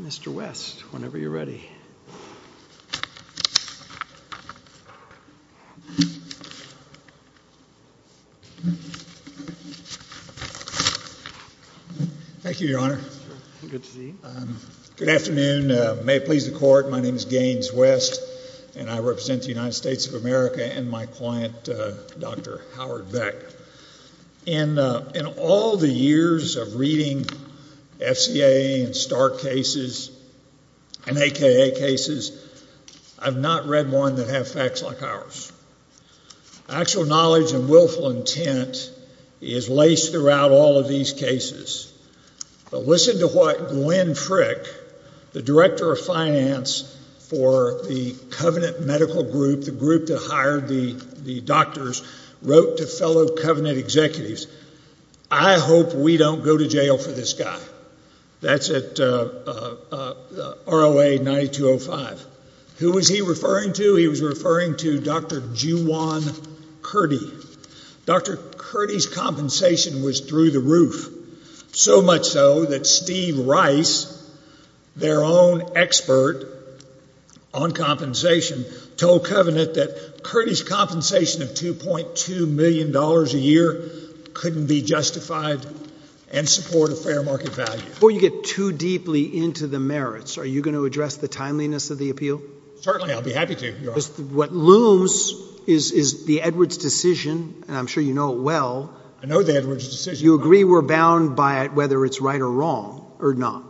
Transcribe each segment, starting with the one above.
Mr. West, whenever you're ready. Thank you, Your Honor. Good afternoon. May it please the Court, my name is Gaines West, and I represent the United States of America and my client, Dr. Howard Beck. In all the years of reading FCA and STAAR cases and AKA cases, I've not read one that have facts like ours. Actual knowledge and willful intent is laced throughout all of these cases, but listen to what Glenn Frick, the Director of Finance for the Covenant Medical Group, the group that hired the doctors, wrote to fellow Covenant executives, I hope we don't go to jail for this guy. That's at ROA 9205. Who was he referring to? He was referring to Dr. Juwan Kurdi. Dr. Kurdi's compensation was through the roof. So much so that Steve Rice, their own expert on compensation, told Covenant that Kurdi's compensation of $2.2 million a year couldn't be justified and support a fair market value. Before you get too deeply into the merits, are you going to address the timeliness of the appeal? Certainly, I'll be happy to, Your Honor. What looms is the Edwards decision, and I'm sure you know it well. I know the Edwards decision. You agree we're bound by it, whether it's right or wrong, or not?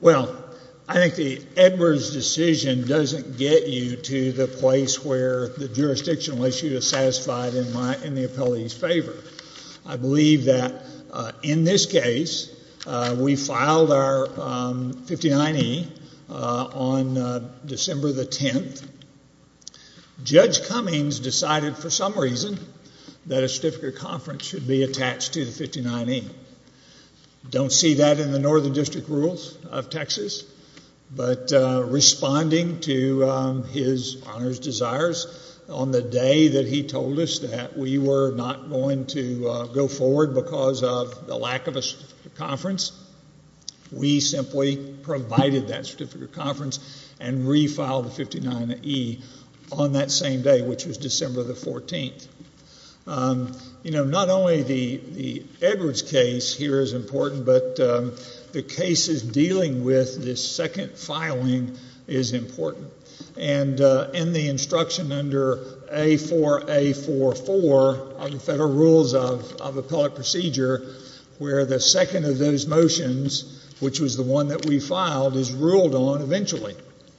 Well, I think the Edwards decision doesn't get you to the place where the jurisdictional issue is satisfied in the appellee's favor. I believe that in this case, we filed our 59E on December the 10th. Judge Cummings decided for some reason that a certificate of conference should be attached to the 59E. Don't see that in the Northern District Rules of Texas, but responding to his honor's desires on the day that he told us that we were not going to go forward because of the lack of a certificate of conference, we simply provided that certificate of conference and refiled the 59E on that same day, which was December the 14th. You know, not only the Edwards case here is important, but the cases dealing with this second filing is important. And in the instruction under A4A44 of the Federal Rules of Appellate Procedure, where the second of those motions, which was the one that we filed, is ruled on eventually.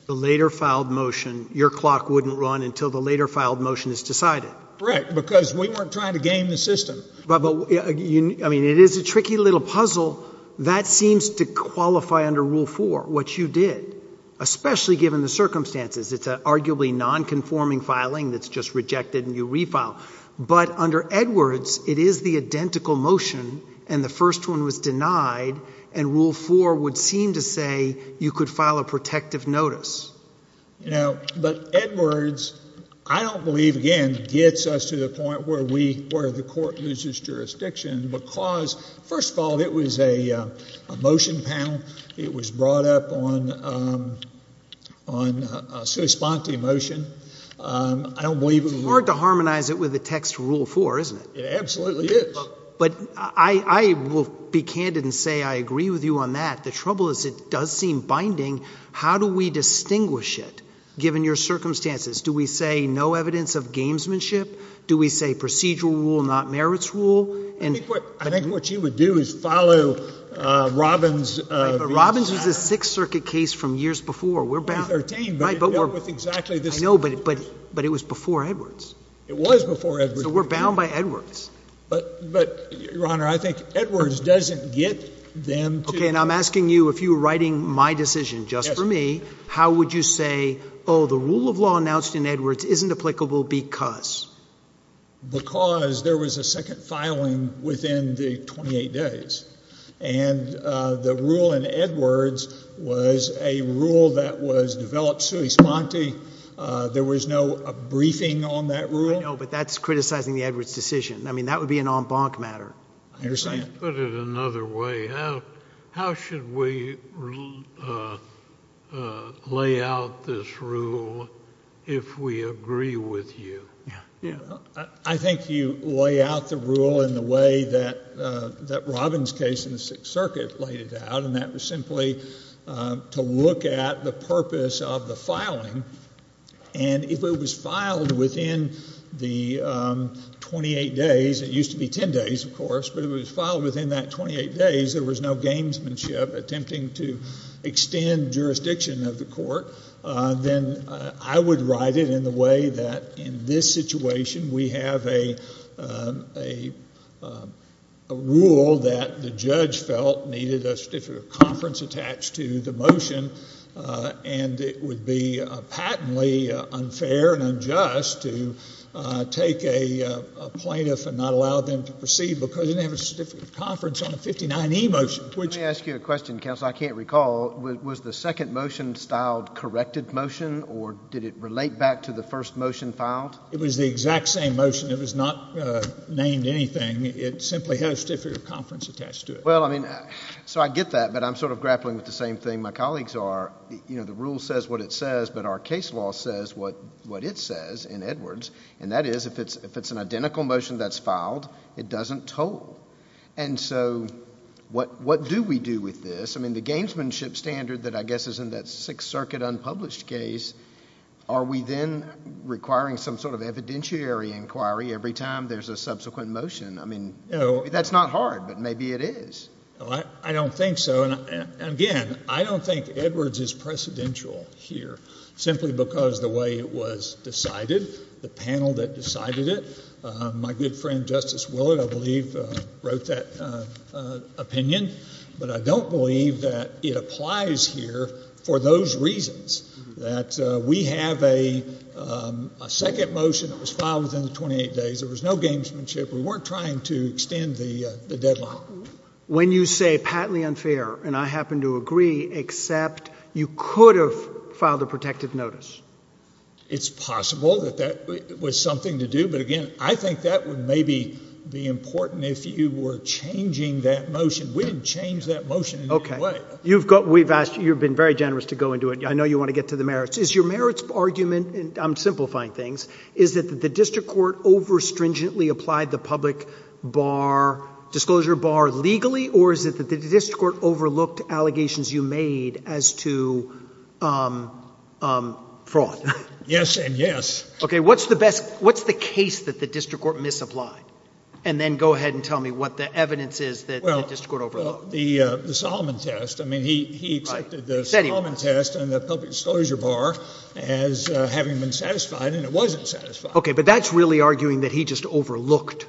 The later filed motion, your clock wouldn't run until the later filed motion is decided. Correct, because we weren't trying to game the system. I mean, it is a tricky little puzzle. That seems to qualify under Rule 4, what you did, especially given the circumstances. It's an arguably nonconforming filing that's just rejected and you refile. But under Edwards, it is the identical motion, and the first one was denied, and Rule 4 would seem to say you could file a protective notice. You know, but Edwards, I don't believe, again, gets us to the point where we, where the court loses jurisdiction because, first of all, it was a motion panel. It was brought up on a sui sponte motion. I don't believe it would be— It's hard to harmonize it with the text Rule 4, isn't it? It absolutely is. But I will be candid and say I agree with you on that. The trouble is it does seem binding. How do we distinguish it, given your circumstances? Do we say no evidence of gamesmanship? Do we say procedural rule, not merits rule? I think what you would do is follow Robbins' view of that. Right, but Robbins was a Sixth Circuit case from years before. We're bound— In 2013, but it dealt with exactly the same issues. I know, but it was before Edwards. It was before Edwards. So we're bound by Edwards. But Your Honor, I think Edwards doesn't get them to— Okay, and I'm asking you, if you were writing my decision just for me, how would you say, oh, the rule of law announced in Edwards isn't applicable because? Because there was a second filing within the 28 days. And the rule in Edwards was a rule that was developed sui sponte. There was no briefing on that rule. I know, but that's criticizing the Edwards decision. I mean, that would be an en banc matter. I understand. Let's put it another way. How should we lay out this rule if we agree with you? I think you lay out the rule in the way that Robbins' case in the Sixth Circuit laid it out, and that was simply to look at the purpose of the filing. And if it was filed within the 28 days—it used to be 10 days, of course—but if it was no gamesmanship, attempting to extend jurisdiction of the court, then I would write it in the way that in this situation, we have a rule that the judge felt needed a certificate of conference attached to the motion, and it would be patently unfair and unjust to take a plaintiff and not allow them to proceed because they didn't have a certificate of conference on a 59E motion, which— Let me ask you a question, counsel. I can't recall. Was the second motion styled corrected motion, or did it relate back to the first motion filed? It was the exact same motion. It was not named anything. It simply has a certificate of conference attached to it. Well, I mean, so I get that, but I'm sort of grappling with the same thing. My colleagues are. You know, the rule says what it says, but our case law says what it says in Edwards, and that is if it's an identical motion that's filed, it doesn't toll, and so what do we do with this? I mean, the gamesmanship standard that I guess is in that Sixth Circuit unpublished case, are we then requiring some sort of evidentiary inquiry every time there's a subsequent motion? I mean, that's not hard, but maybe it is. I don't think so, and again, I don't think Edwards is precedential here simply because of the way it was decided, the panel that decided it. My good friend Justice Willard, I believe, wrote that opinion, but I don't believe that it applies here for those reasons, that we have a second motion that was filed within the 28 days. There was no gamesmanship. We weren't trying to extend the deadline. When you say patently unfair, and I happen to agree, except you could have filed a protective notice. It's possible that that was something to do, but again, I think that would maybe be important if you were changing that motion. We didn't change that motion in any way. Okay. You've been very generous to go into it. I know you want to get to the merits. Is your merits argument, and I'm simplifying things, is that the district court overstringently applied the public disclosure bar legally, or is it that the district court overlooked allegations you made as to fraud? Yes and yes. Okay. What's the case that the district court misapplied? And then go ahead and tell me what the evidence is that the district court overlooked. The Solomon test. I mean, he accepted the Solomon test and the public disclosure bar as having been satisfied, and it wasn't satisfied. Okay. But that's really arguing that he just overlooked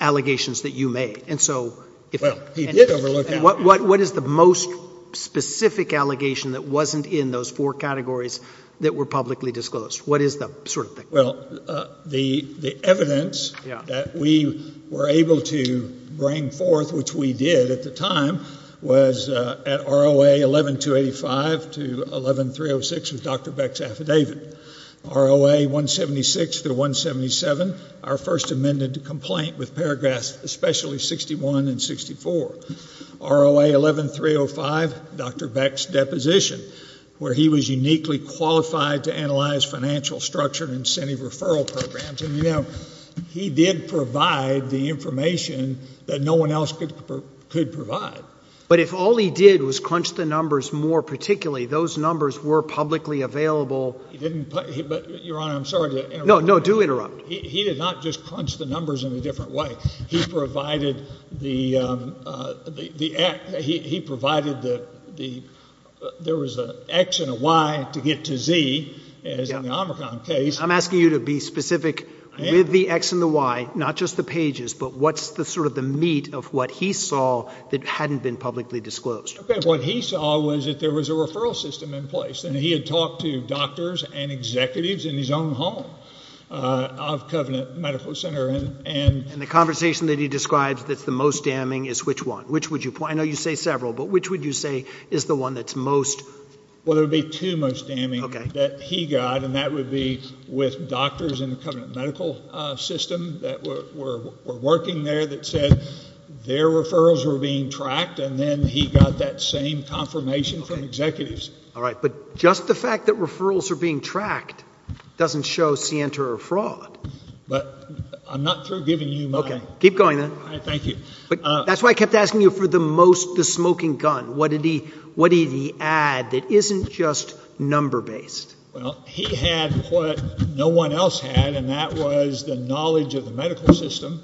allegations that you made. And so... Well, he did overlook that. And what is the most specific allegation that wasn't in those four categories that were publicly disclosed? What is the sort of thing? Well, the evidence that we were able to bring forth, which we did at the time, was at ROA 11-285 to 11-306 with Dr. Beck's affidavit, ROA 176 through 177, our first amended complaint with paragraphs especially 61 and 64, ROA 11-305, Dr. Beck's deposition, where he was uniquely qualified to analyze financial structure and incentive referral programs. And, you know, he did provide the information that no one else could provide. But if all he did was crunch the numbers more particularly, those numbers were publicly available... He didn't... But, Your Honor, I'm sorry to interrupt. No, no. Do interrupt. He did not just crunch the numbers in a different way. He provided the... he provided the... there was an X and a Y to get to Z, as in the Omricon case. I'm asking you to be specific with the X and the Y, not just the pages, but what's the sort of the meat of what he saw that hadn't been publicly disclosed? What he saw was that there was a referral system in place, and he had talked to doctors and executives in his own home of Covenant Medical Center, and... And the conversation that he describes that's the most damning is which one? Which would you... I know you say several, but which would you say is the one that's most... Well, there would be two most damning... Okay.... that he got, and that would be with doctors in Covenant Medical System that were working there that said their referrals were being tracked, and then he got that same confirmation from executives. Okay. All right. But just the fact that referrals are being tracked doesn't show scienter or fraud. But I'm not through giving you my... Okay. Keep going, then. All right. Thank you. But that's why I kept asking you for the most... the smoking gun. What did he... what did he add that isn't just number-based? Well, he had what no one else had, and that was the knowledge of the medical system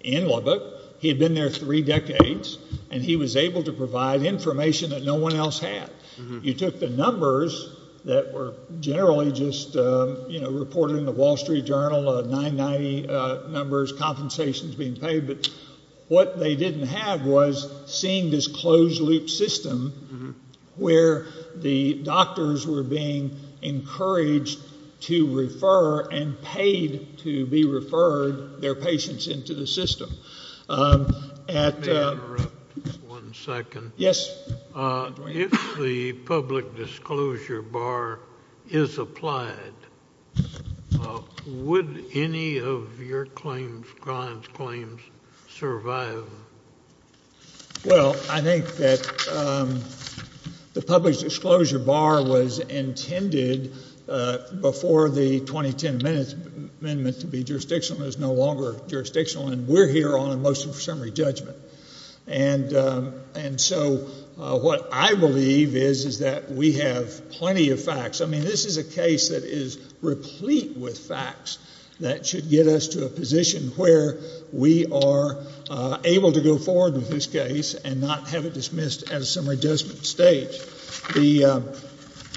in Lubbock. He had been there three decades, and he was able to provide information that no one else had. Mm-hmm. You took the numbers that were generally just, you know, reported in the Wall Street Journal, 990 numbers, compensations being paid, but what they didn't have was seeing this closed-loop system... Mm-hmm.... where the doctors were being encouraged to refer and paid to be referred their patients into the system. At... May I interrupt just one second? Yes. If the public disclosure bar is applied, would any of your claims, Glenn's claims, survive? Well, I think that the public disclosure bar was intended before the 2010 amendment to be jurisdictional. It is no longer jurisdictional, and we're here on a motion for summary judgment. And so, what I believe is, is that we have plenty of facts. I mean, this is a case that is replete with facts that should get us to a position where we are able to go forward with this case and not have it dismissed at a summary judgment stage. The...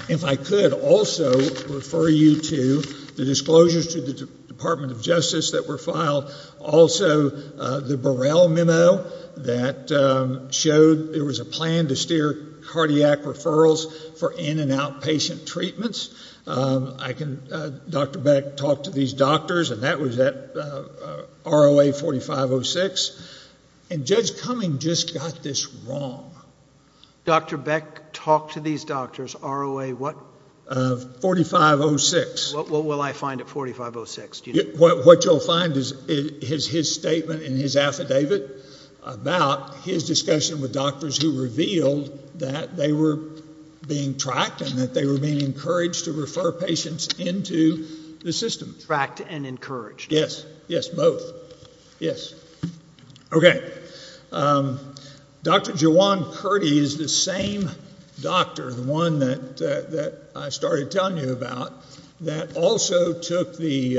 if I could also refer you to the disclosures to the Department of Justice that were filed. Also, the Burrell memo that showed there was a plan to steer cardiac referrals for in-and-out patient treatments. I can... Dr. Beck talked to these doctors, and that was at ROA 4506. And Judge Cumming just got this wrong. Dr. Beck talked to these doctors, ROA what? 4506. What will I find at 4506? What you'll find is his statement in his affidavit about his discussion with doctors who revealed that they were being tracked and that they were being encouraged to refer patients into the system. Tracked and encouraged. Yes. Yes, both. Yes. Okay. Dr. Jawan Kurdi is the same doctor, the one that I started telling you about, that also took the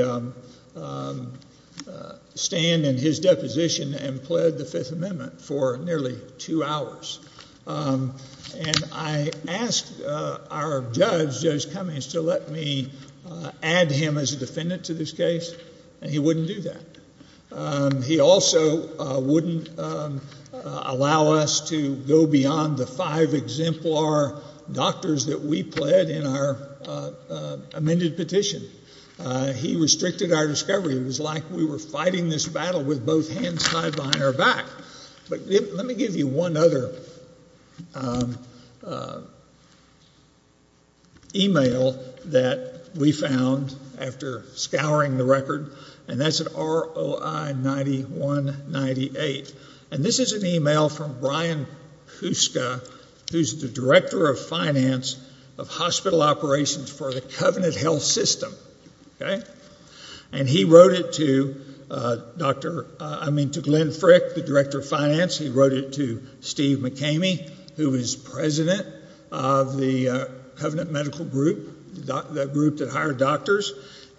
stand in his deposition and pled the Fifth Amendment for nearly two hours. And I asked our judge, Judge Cummings, to let me add him as a defendant to this case, and he wouldn't do that. He also wouldn't allow us to go beyond the five exemplar doctors that we pled in our discovery. He restricted our discovery. It was like we were fighting this battle with both hands tied behind our back. But let me give you one other email that we found after scouring the record, and that's at ROI 9198. And this is an email from Brian Kuska, who's the Director of Finance of Hospital Operations for the Covenant Health System. And he wrote it to Glenn Frick, the Director of Finance. He wrote it to Steve McKamey, who was president of the Covenant Medical Group, the group that hired doctors,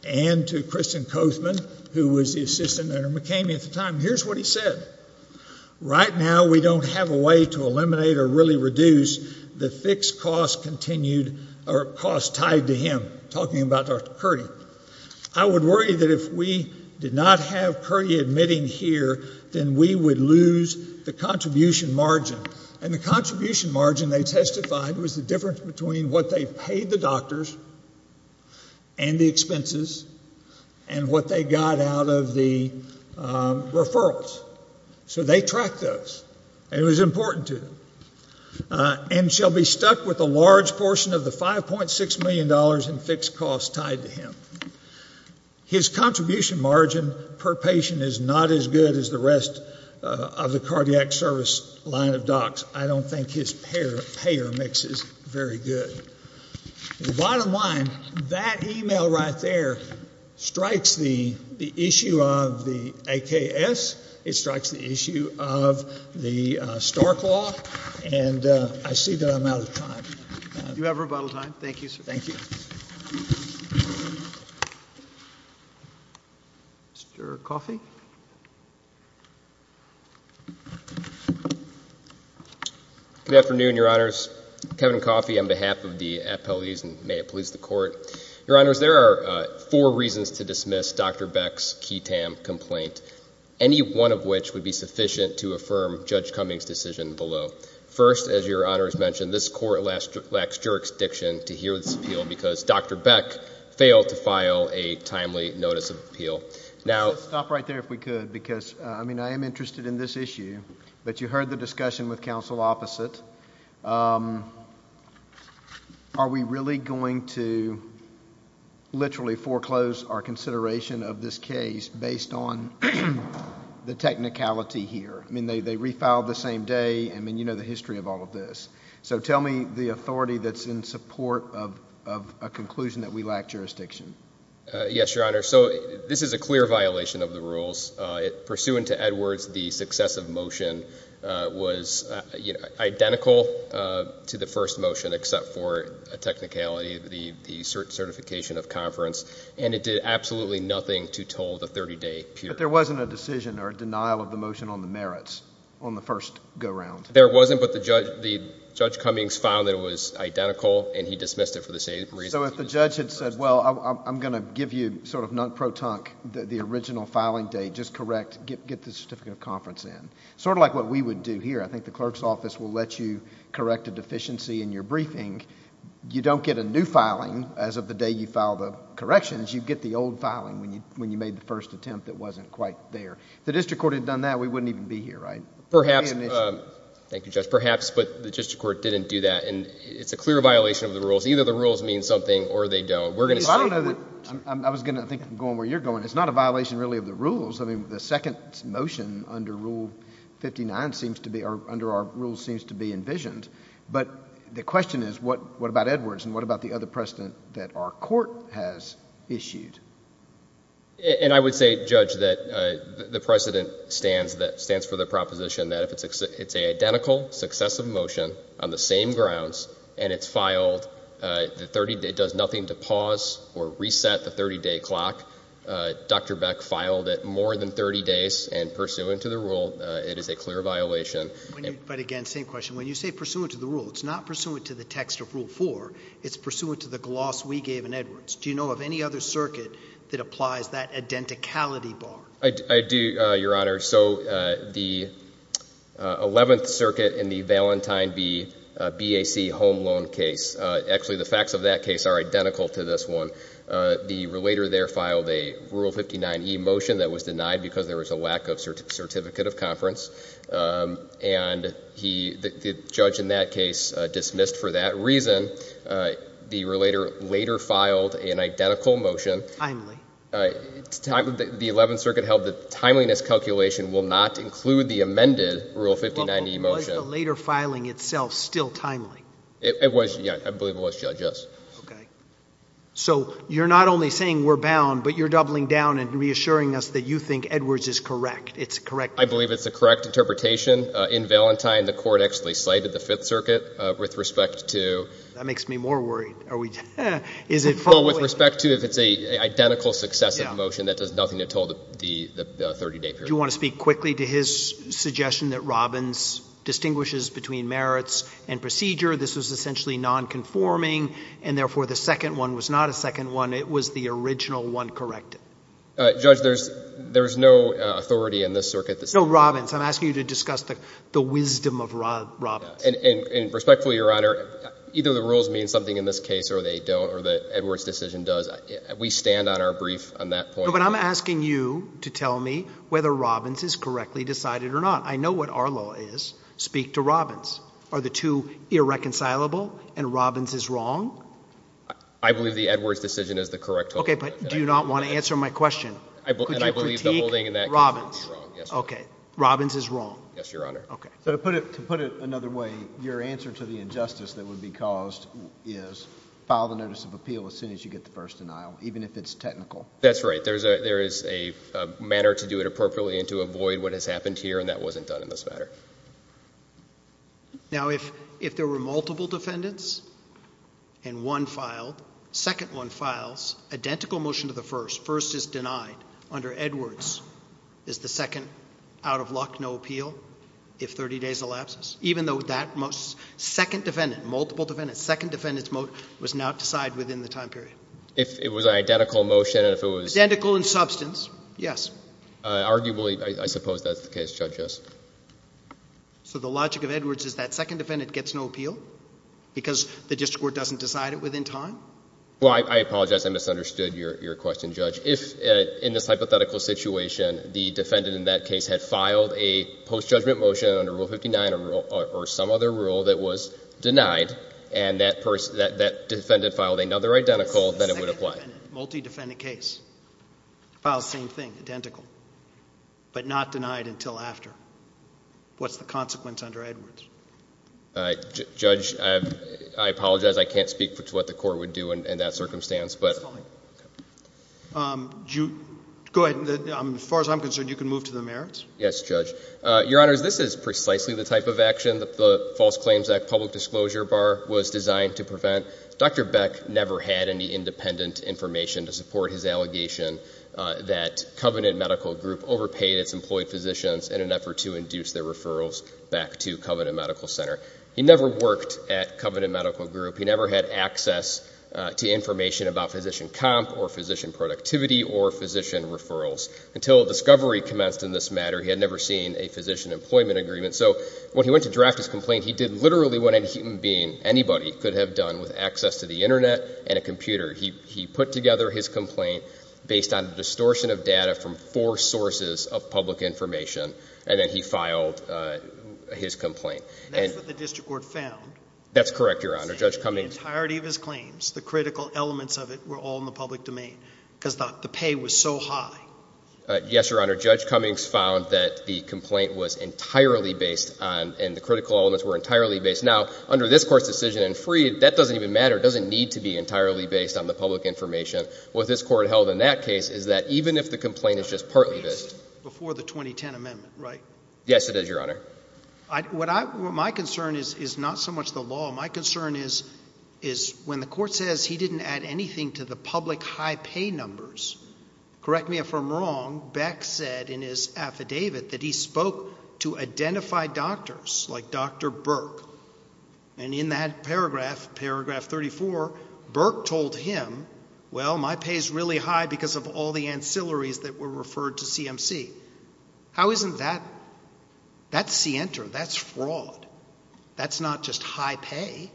and to Kristen Kothman, who was the assistant under McKamey at the time. Here's what he said. Right now, we don't have a way to eliminate or really reduce the fixed cost continued or cost tied to him, talking about Dr. Kurdi. I would worry that if we did not have Kurdi admitting here, then we would lose the contribution margin. And the contribution margin, they testified, was the difference between what they paid the doctors and the expenses and what they got out of the referrals. So they tracked those. It was important to them. And shall be stuck with a large portion of the $5.6 million in fixed costs tied to him. His contribution margin per patient is not as good as the rest of the cardiac service line of docs. I don't think his payer mix is very good. The bottom line, that email right there strikes the issue of the AKS. It strikes the issue of the Stark Law. And I see that I'm out of time. You have rebuttal time. Thank you, sir. Thank you. Mr. Coffey? Good afternoon, your honors. Kevin Coffey on behalf of the appellees, and may it please the court. Your honors, there are four reasons to dismiss Dr. Beck's key TAM complaint. Any one of which would be sufficient to affirm Judge Cummings' decision below. First, as your honors mentioned, this court lacks jurisdiction to hear this appeal because Dr. Beck failed to file a timely notice of appeal. Stop right there if we could, because I am interested in this issue. But you heard the discussion with counsel opposite. Are we really going to literally foreclose our consideration of this case based on the technicality here? I mean, they refiled the same day. I mean, you know the history of all of this. So tell me the authority that's in support of a conclusion that we lack jurisdiction. Yes, your honor. So this is a clear violation of the rules. Pursuant to Edwards, the successive motion was identical to the first motion except for a technicality, the certification of conference. And it did absolutely nothing to toll the 30-day period. But there wasn't a decision or a denial of the motion on the merits on the first go-round. There wasn't, but Judge Cummings found that it was identical and he dismissed it for the same reason. So if the judge had said, well, I'm going to give you sort of non-protonk the original filing date, just correct, get the certificate of conference in. Sort of like what we would do here. I think the clerk's office will let you correct a deficiency in your briefing. You don't get a new filing as of the day you filed the corrections. You get the old filing when you made the first attempt that wasn't quite there. If the district court had done that, we wouldn't even be here, right? Thank you, Judge. Perhaps, but the district court didn't do that. And it's a clear violation of the rules. Either the rules mean something or they don't. I was going to think, going where you're going, it's not a violation really of the rules. I mean, the second motion under Rule 59 seems to be, or under our rules seems to be envisioned. But the question is, what about Edwards? And what about the other precedent that our court has issued? And I would say, Judge, that the precedent stands for the proposition that if it's an identical successive motion on the same grounds and it's filed, it does nothing to pause or reset the 30-day clock. Dr. Beck filed it more than 30 days and pursuant to the rule, it is a clear violation. But again, same question. When you say pursuant to the rule, it's not pursuant to the text of Rule 4. It's pursuant to the gloss we gave in Edwards. Do you know of any other circuit that applies that identicality bar? I do, Your Honor. So the 11th Circuit in the Valentine v. BAC home loan case, actually the facts of that case are identical to this one. The relator there filed a Rule 59e motion that was denied because there was a lack of certificate of conference. And the judge in that case dismissed for that reason. The relator later filed an identical motion. Timely. The 11th Circuit held that timeliness calculation will not include the amended Rule 59e motion. Was the later filing itself still timely? It was, yeah. I believe it was, Judge, yes. Okay. So you're not only saying we're bound, but you're doubling down and reassuring us that you think Edwards is correct. It's correct. I believe it's a correct interpretation. In Valentine, the court actually cited the 5th Circuit with respect to... That makes me more worried. With respect to if it's an identical successive motion that does nothing at all to the 30-day period. Do you want to speak quickly to his suggestion that Robbins distinguishes between merits and procedure? This was essentially nonconforming, and therefore the second one was not a second one. It was the original one corrected. Judge, there's no authority in this circuit... No, Robbins. I'm asking you to discuss the wisdom of Robbins. And respectfully, Your Honor, either the rules mean something in this case, or they don't, or the Edwards decision does. We stand on our brief on that point. No, but I'm asking you to tell me whether Robbins is correctly decided or not. I know what our law is. Speak to Robbins. Are the two irreconcilable, and Robbins is wrong? I believe the Edwards decision is the correct holding. Okay, but do you not want to answer my question? Could you critique Robbins? Robbins is wrong. Yes, Your Honor. So to put it another way, your answer to the injustice that would be caused is file the notice of appeal as soon as you get the first denial, even if it's technical. That's right. There is a manner to do it appropriately and to avoid what has happened here, and that wasn't done in this matter. Now, if there were multiple defendants, and one filed, second one files, identical motion to the first, first is denied under Edwards, is the second out of luck, no appeal, if 30 days elapses? Even though that second defendant, multiple defendants, second defendant's motion was not decided within the time period. If it was an identical motion and if it was... Identical in substance, yes. Arguably, I suppose that's the case, Judge, yes. So the logic of Edwards is that second defendant gets no appeal because the district court doesn't decide it within time? Well, I apologize. I misunderstood your question, Judge. If in this hypothetical situation the defendant in that case had filed a post-judgment motion under Rule 59 or some other rule that was denied and that defendant filed another identical, then it would apply. Multi-defendant case. Files same thing, identical, but not denied until after. What's the consequence under Edwards? Uh, Judge, I apologize. I can't speak to what the court would do in that circumstance, but... It's fine. Um, you... Go ahead. As far as I'm concerned, you can move to the merits. Yes, Judge. Uh, Your Honors, this is precisely the type of action that the False Claims Act Public Disclosure Bar was designed to prevent. Dr. Beck never had any independent information to support his allegation that Covenant Medical Group overpaid its employed physicians in an effort to induce their referrals back to Covenant Medical Center. He never worked at Covenant Medical Group. He never had access to information about physician comp or physician productivity or physician referrals. Until a discovery commenced in this matter, he had never seen a physician employment agreement. So when he went to draft his complaint, he did literally what any human being, anybody could have done with access to the Internet and a computer. He-he put together his complaint based on a distortion of data from four sources of public information, and then he filed, uh, his complaint. And that's what the district court found. That's correct, Your Honor. Judge Cummings... The entirety of his claims, the critical elements of it were all in the public domain because the pay was so high. Uh, yes, Your Honor. Judge Cummings found that the complaint was entirely based on... And the critical elements were entirely based... Now, under this court's decision in Freed, that doesn't even matter. It doesn't need to be entirely based on the public information. What this court held in that case is that even if the complaint is just partly based... Before the 2010 amendment, right? Yes, it is, Your Honor. I... What I... What my concern is-is not so much the law. My concern is-is when the court says he didn't add anything to the public high pay numbers, correct me if I'm wrong, Beck said in his affidavit that he spoke to identified doctors like Dr. Burke. And in that paragraph, paragraph 34, Burke told him, well, my pay's really high because of all the ancillaries that were referred to CMC. How isn't that... That's scienter. That's fraud. That's not just high pay.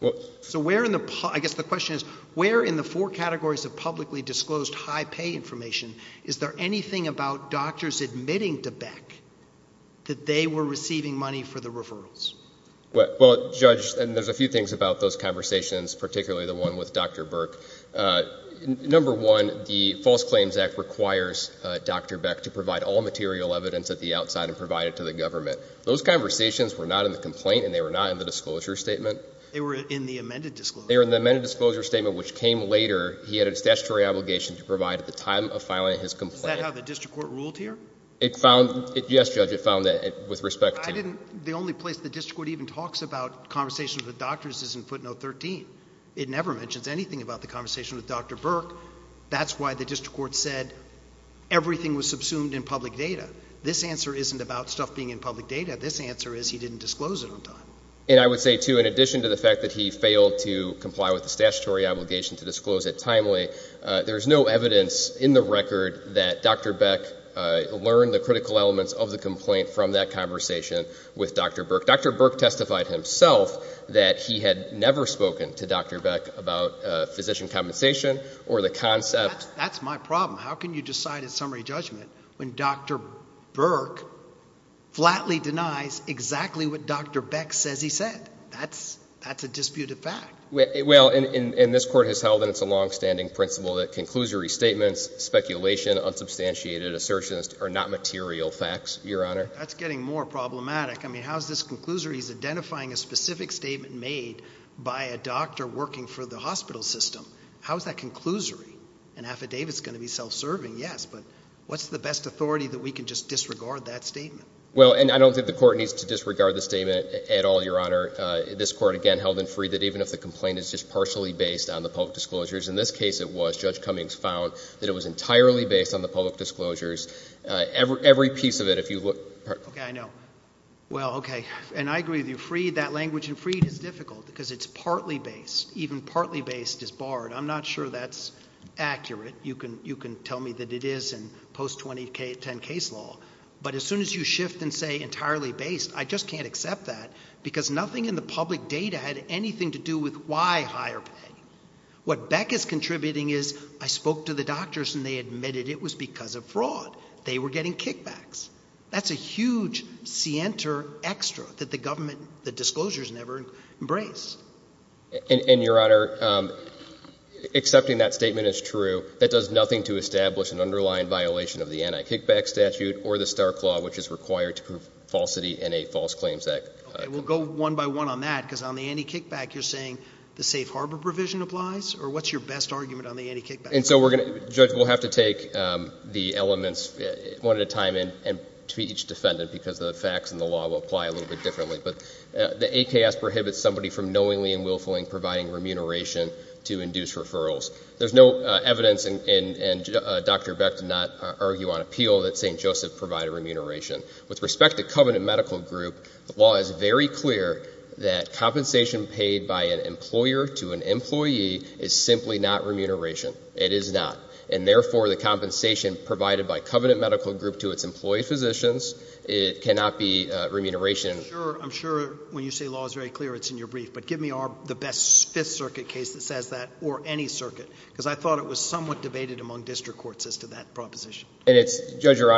Well... So where in the... I guess the question is where in the four categories of publicly disclosed high pay information is there anything about doctors admitting to Beck that they were receiving money for the referrals? Well, Judge, and there's a few things about those conversations, particularly the one with Dr. Burke. Number one, the False Claims Act requires Dr. Beck to provide all material evidence at the outside and provide it to the government. Those conversations were not in the complaint and they were not in the disclosure statement. They were in the amended disclosure statement. They were in the amended disclosure statement which came later. He had a statutory obligation to provide at the time of filing his complaint. Is that how the District Court ruled here? It found... Yes, Judge, it found that with respect to... I didn't... The only place the District Court even talks about conversations with doctors is in footnote 13. It never mentions anything about the conversation with Dr. Burke. That's why the District Court said everything was subsumed in public data. This answer isn't about stuff being in public data. This answer is he didn't disclose it on time. And I would say too, in addition to the fact that he failed to comply with the statutory obligation to disclose it timely, there's no evidence in the record that Dr. Beck learned the critical elements of the complaint from that conversation with Dr. Burke. Dr. Burke testified himself that he had never spoken to Dr. Beck about physician compensation or the concept... That's my problem. How can you decide at summary judgment when Dr. Burke flatly denies exactly what Dr. Beck says he said? That's a disputed fact. Well, and this Court has held that it's a long-standing principle that conclusory statements, speculation, unsubstantiated assertions are not material facts, Your Honor. That's getting more problematic. I mean, how is this conclusory? He's identifying a specific statement made by a doctor working for the hospital system. How is that conclusory? An affidavit is going to be self-serving, yes, but what's the best authority that we can just disregard that statement? Well, and I don't think the Court needs to disregard the statement at all, Your Honor. This Court, again, held in Freed that even if the complaint is just partially based on the public disclosures, in this case it was. Judge Cummings found that it was entirely based on the public disclosures. Every piece of it, if you look... Okay, I know. Well, okay. And I agree with you. If you look at Freed, that language in Freed is difficult because it's partly based. Even partly based is barred. I'm not sure that's accurate. You can tell me that it is in post-2010 case law, but as soon as you shift and say entirely based, I just can't accept that because nothing in the public data had anything to do with why higher pay. What Beck is contributing is I spoke to the doctors and they admitted it was because of fraud. They were getting kickbacks. That's a huge cienter extra that the government, the disclosures never embrace. And, Your Honor, accepting that statement is true. That does nothing to establish an underlying violation of the anti-kickback statute or the Star Claw, which is required to prove falsity in a false claims act. Okay, we'll go one by one on that because on the anti-kickback you're saying the safe harbor provision applies or what's your best argument on the anti-kickback provision? And so we're going to, Judge, we'll have to take the elements one at a time and to each defendant because the facts in the law will apply a little bit differently. But the AKS prohibits somebody from knowingly and willfully providing remuneration to induce referrals. There's no evidence and Dr. Beck did not argue on appeal that St. Joseph provided remuneration. With respect to Covenant Medical Group the law is very clear that compensation paid by an employer to an employee is simply not remuneration. It is not. And therefore the compensation provided by Covenant Medical Group to its employee physicians cannot be remuneration. I'm sure when you say law is very clear it's in your brief but give me the best Fifth Circuit case that says that or any circuit because I thought it was somewhat debated among district courts as to that proposition. And Judge Your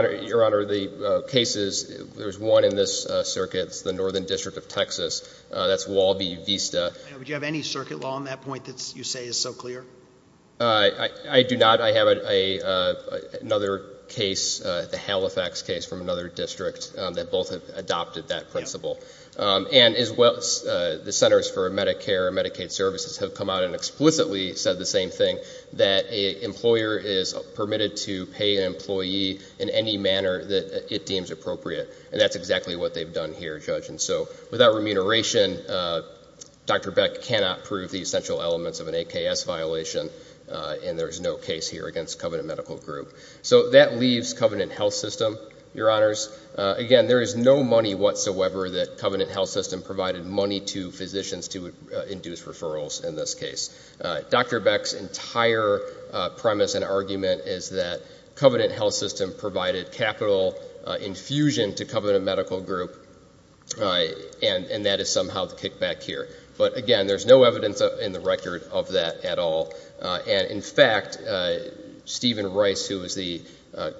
Honor the cases there's one in this circuit it's the Northern District of Texas that's Walby Vista Do you have any circuit law on that point that you say is so clear? I do not. I have another case the Halifax case from another district that both have adopted that principle. And as well the Centers for Medicare and Medicaid Services have come out and explicitly said the same thing that an employer is permitted to pay an employee in any manner that it deems appropriate and that's exactly what they've done here Judge and so without remuneration Dr. Beck cannot prove the essential elements of There is no money whatsoever that Covenant Health System provided money to physicians to induce referrals in this case. Dr. Beck's entire premise and argument is that Covenant Health System provided capital infusion to Covenant Medical Group and that is somehow the kickback here. But again there's no evidence in the record of that at all and in fact Stephen Rice who is the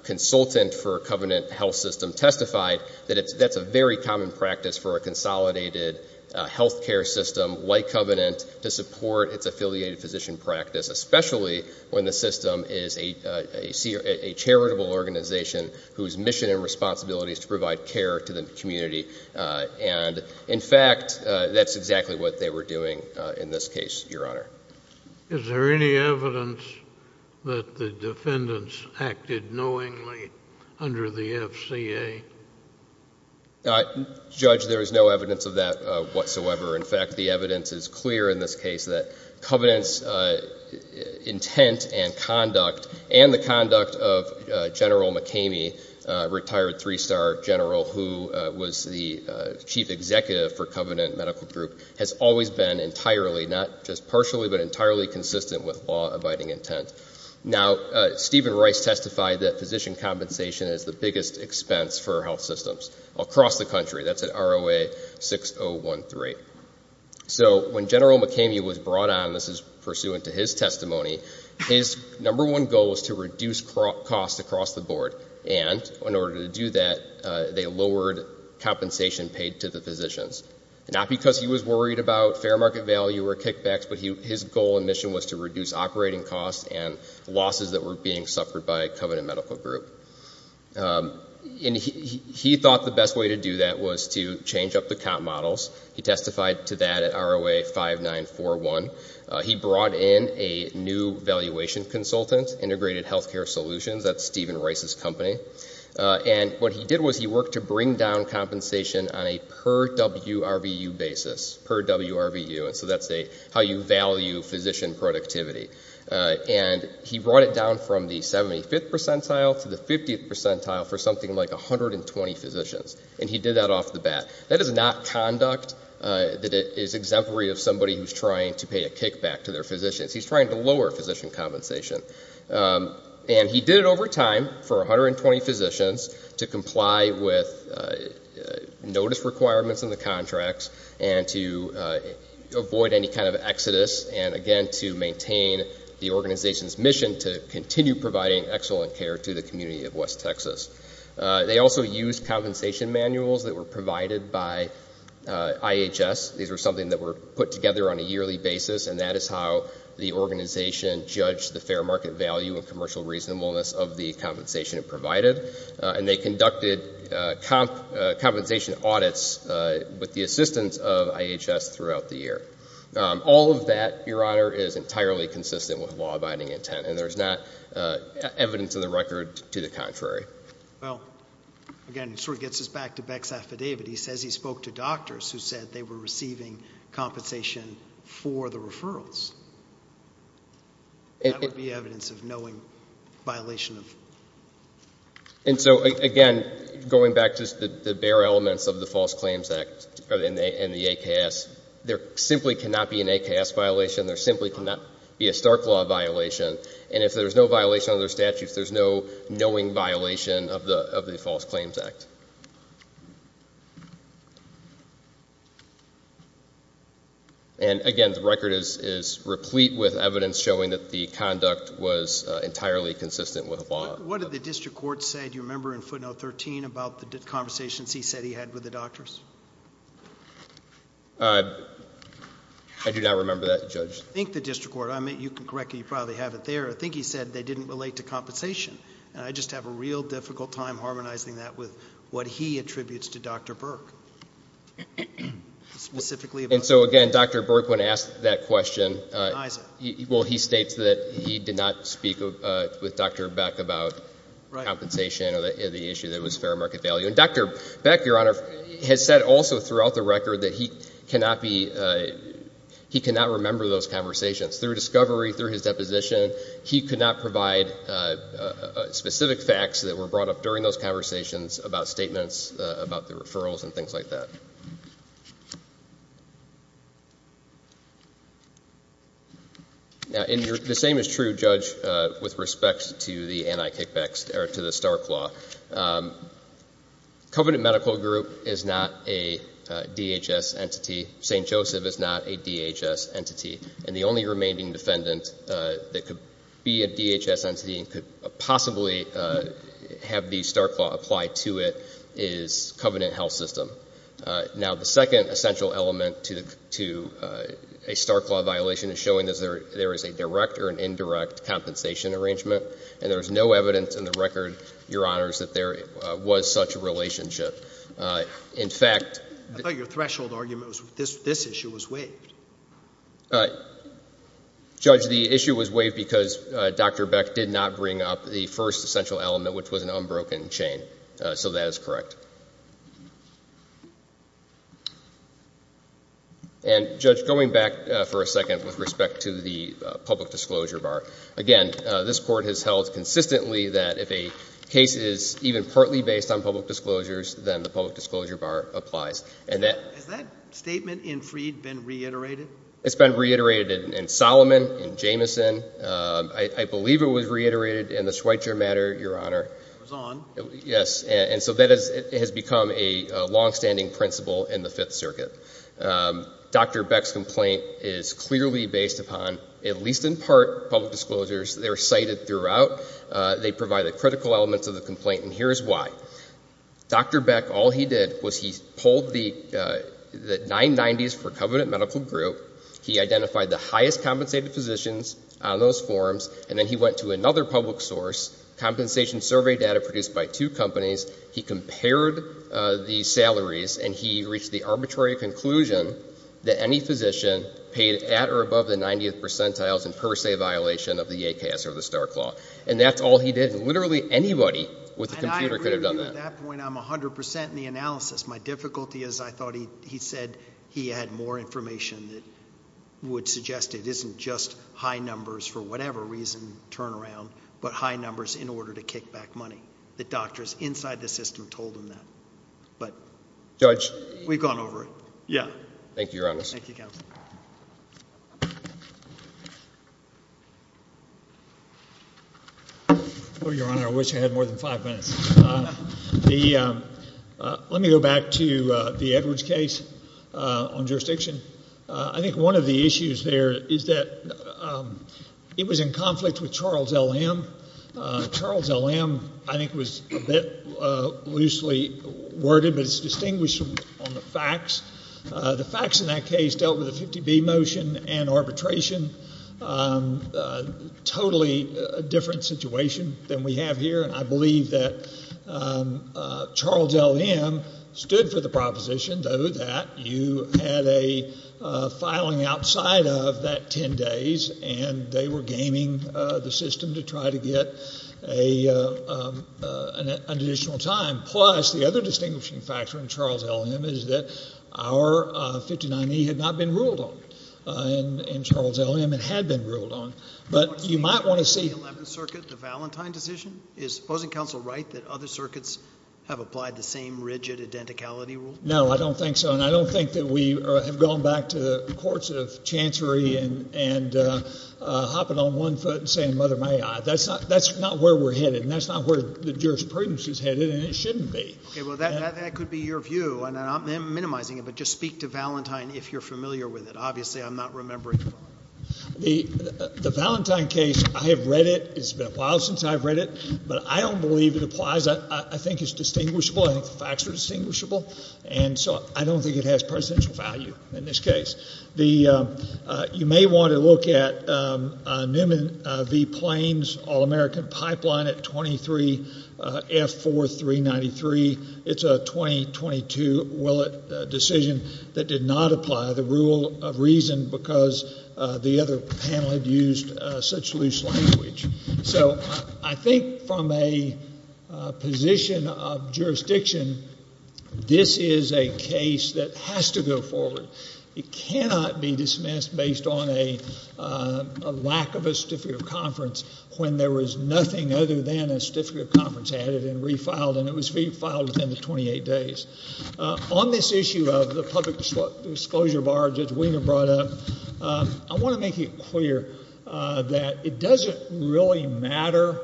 consultant for Covenant Health System testified that it's a very common practice for a consolidated health care system like Covenant to support its affiliated physician practice especially when the system is a charitable organization whose mission and responsibility is to provide care to the community and in fact that's exactly what they were doing in this case Your Honor. Is there any evidence that the defendants acted knowingly under the FCA? Judge there is no evidence of that whatsoever in fact the evidence is clear in this case that Covenant's intent and conduct and the conduct of General McCamey retired three-star general who was the chief executive for Covenant Medical Group has always been entirely not just partially but entirely consistent with law abiding intent now Stephen Rice testified that pursuant to his testimony his number one goal was to reduce costs across the board and in order to do that they lowered compensation paid to the physicians not because he was worried about fair market value he testified to that at ROA 5941 he brought in a new valuation consultant integrated healthcare solutions that's Stephen Rice's company and what he did was he worked to bring down compensation on a per per percent and he brought it down from the 75th percentile to the 50th percentile for something like 120 physicians and he did that off the bat that is not conduct that avoid any kind of exodus and again to maintain the organization's mission to continue providing excellent care to the community of west Texas they also used compensation manuals provided by IHS something put together on a yearly basis and that is how the organization judged the fair market value of the compensation provided and they conducted compensation audits with the assistance of IHS throughout the state for the referrals that would be evidence of knowing violation and so again going back to the bare elements of the false claims act and the AKS there simply cannot be an AKS violation there simply cannot be a stark law violation and if there's no violation of their statutes there's no knowing violation of the false claims act and again the record is replete with evidence showing that the conduct was entirely consistent with the law what did the district court I think he said they didn't relate to compensation I just have a real difficult time harmonizing that with what he attributes to Dr. Burke specifically about compensation and the issue that was fair market value and Dr. Burke has said throughout the record he cannot remember those conversations through his deposition he could not provide specific facts that were brought up during those conversations about statements about the referrals and things like that now the same is true judge with respect to the star claw covenant medical group is not a DHS entity St. Joseph is not a DHS entity and the only remaining defendant that could be a DHS entity and could possibly have the star claw apply to it is covenant health system now the second essential element to a star claw violation is showing there is a direct or indirect compensation arrangement and there is no evidence in the record your honors that there was such a relationship in fact your threshold argument this issue was waived judge the issue was waived because Dr. Beck did not bring up the first essential element which is the disclosure bar the public disclosure bar applies has that statement been reiterated it's been reiterated in Solomon Jamison I believe it was reiterated in the Schweitzer matter your honor so that has become a long standing principle in the fifth circuit Dr. Beck's complaint is clearly based upon at least in part public disclosures cited throughout they provide the critical elements of the complaint here's why Dr. Beck all he did was he pulled the 990s for covenant medical group he identified the highest compensated physicians on those forms and he went to another public source he compared the salaries and he reached the conclusion that any physician paid at or above the 90th percentile that's all he did literally anybody with a computer could have done that my difficulty is I thought he said he had more information that would suggest it isn't just high numbers for whatever reason turn around but it wasn't just high numbers in order to kick back money the doctors inside the system told him that we have gone over it thank you your honor I Charles L. M. I think was loosely worded distinguished on the facts the facts in that case dealt with the 50B motion and arbitration totally different situation than we have here I believe that Charles L. M. stood for the proposition that you had a filing outside of that 10 days and they were gaming the system to try to get an additional time plus the other distinguishing factor in Charles L. M. is that our 59E had not been ruled on in Charles L. M. had been ruled on but you might want to see the valentine decision is opposing counsel right that other circuits have applied the same rigid identicality rule no I don't think so and I don't think that we have gone back to the courts of chancery and hopping on one foot and saying mother may I think facts are distinguishable I don't think it has value in this case you may want to look at all American pipeline at 23 F4 393 it's a 2022 decision that did not apply the rule of reason because the other panel used such loose language so I think from a position of jurisdiction this is a case that has to go forward it cannot be dismissed based on a lack of a public disclosure and I want to make it clear that it doesn't really matter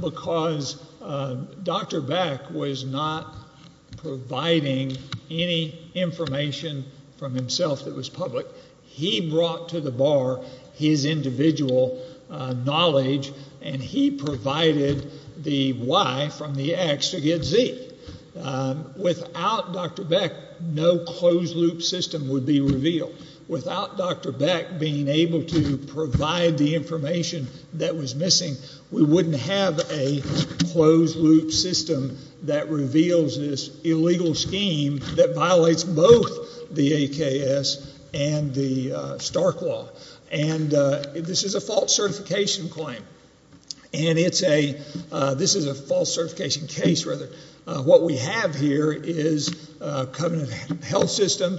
because Dr. Beck was not providing any information from himself that was public he brought to the bar his individual knowledge and he provided the Y from the X to get Z without Dr. Beck no closed loop system would be revealed without Dr. Beck being able to provide the information that was missing we wouldn't have a closed loop system that reveals this illegal scheme that violates both the AKS and the Stark Law and this is a false certification claim and this is a false certification case what we have here is a covenant health system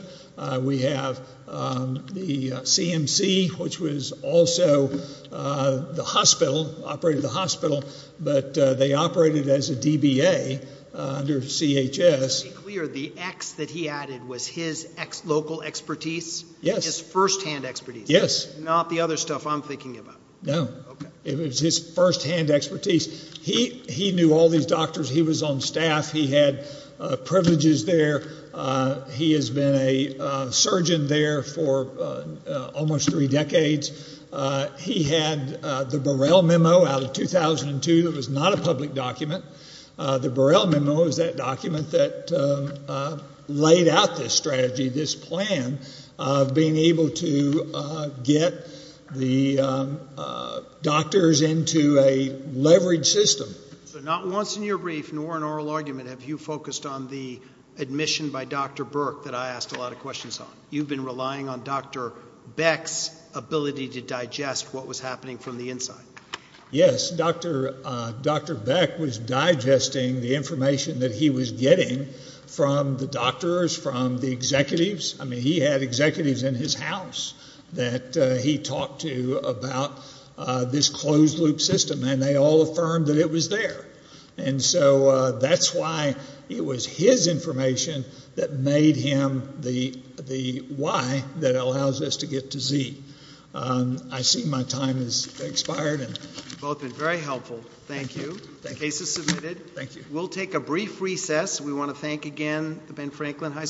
we have the CMC which was also the hospital operated the hospital but they operated as a DBA under CHS the X he added his local expertise first hand expertise not the other stuff I'm thinking about no it was his first hand expertise he knew all these doctors he was on staff he had privileges there he has been a surgeon there for almost three decades he had the URL that document that laid out this strategy this plan being able to get the doctors into leveraged system not once in your brief have you focused on the admission by Dr. Burke I asked a lot of questions you've been relying on Dr. Beck's ability to digest what was happening from the inside yes Dr. Dr. Beck was digesting the information he was getting from the doctors executives he had executives in his house that he talked to about this closed loop system and they all affirmed it was there and so that's why it was his information that made him the why that allows us to get to Z. I see my time has expired. Thank you. The case is submitted. We'll take a brief recess. We want to thank again the Ben Franklin Hospital for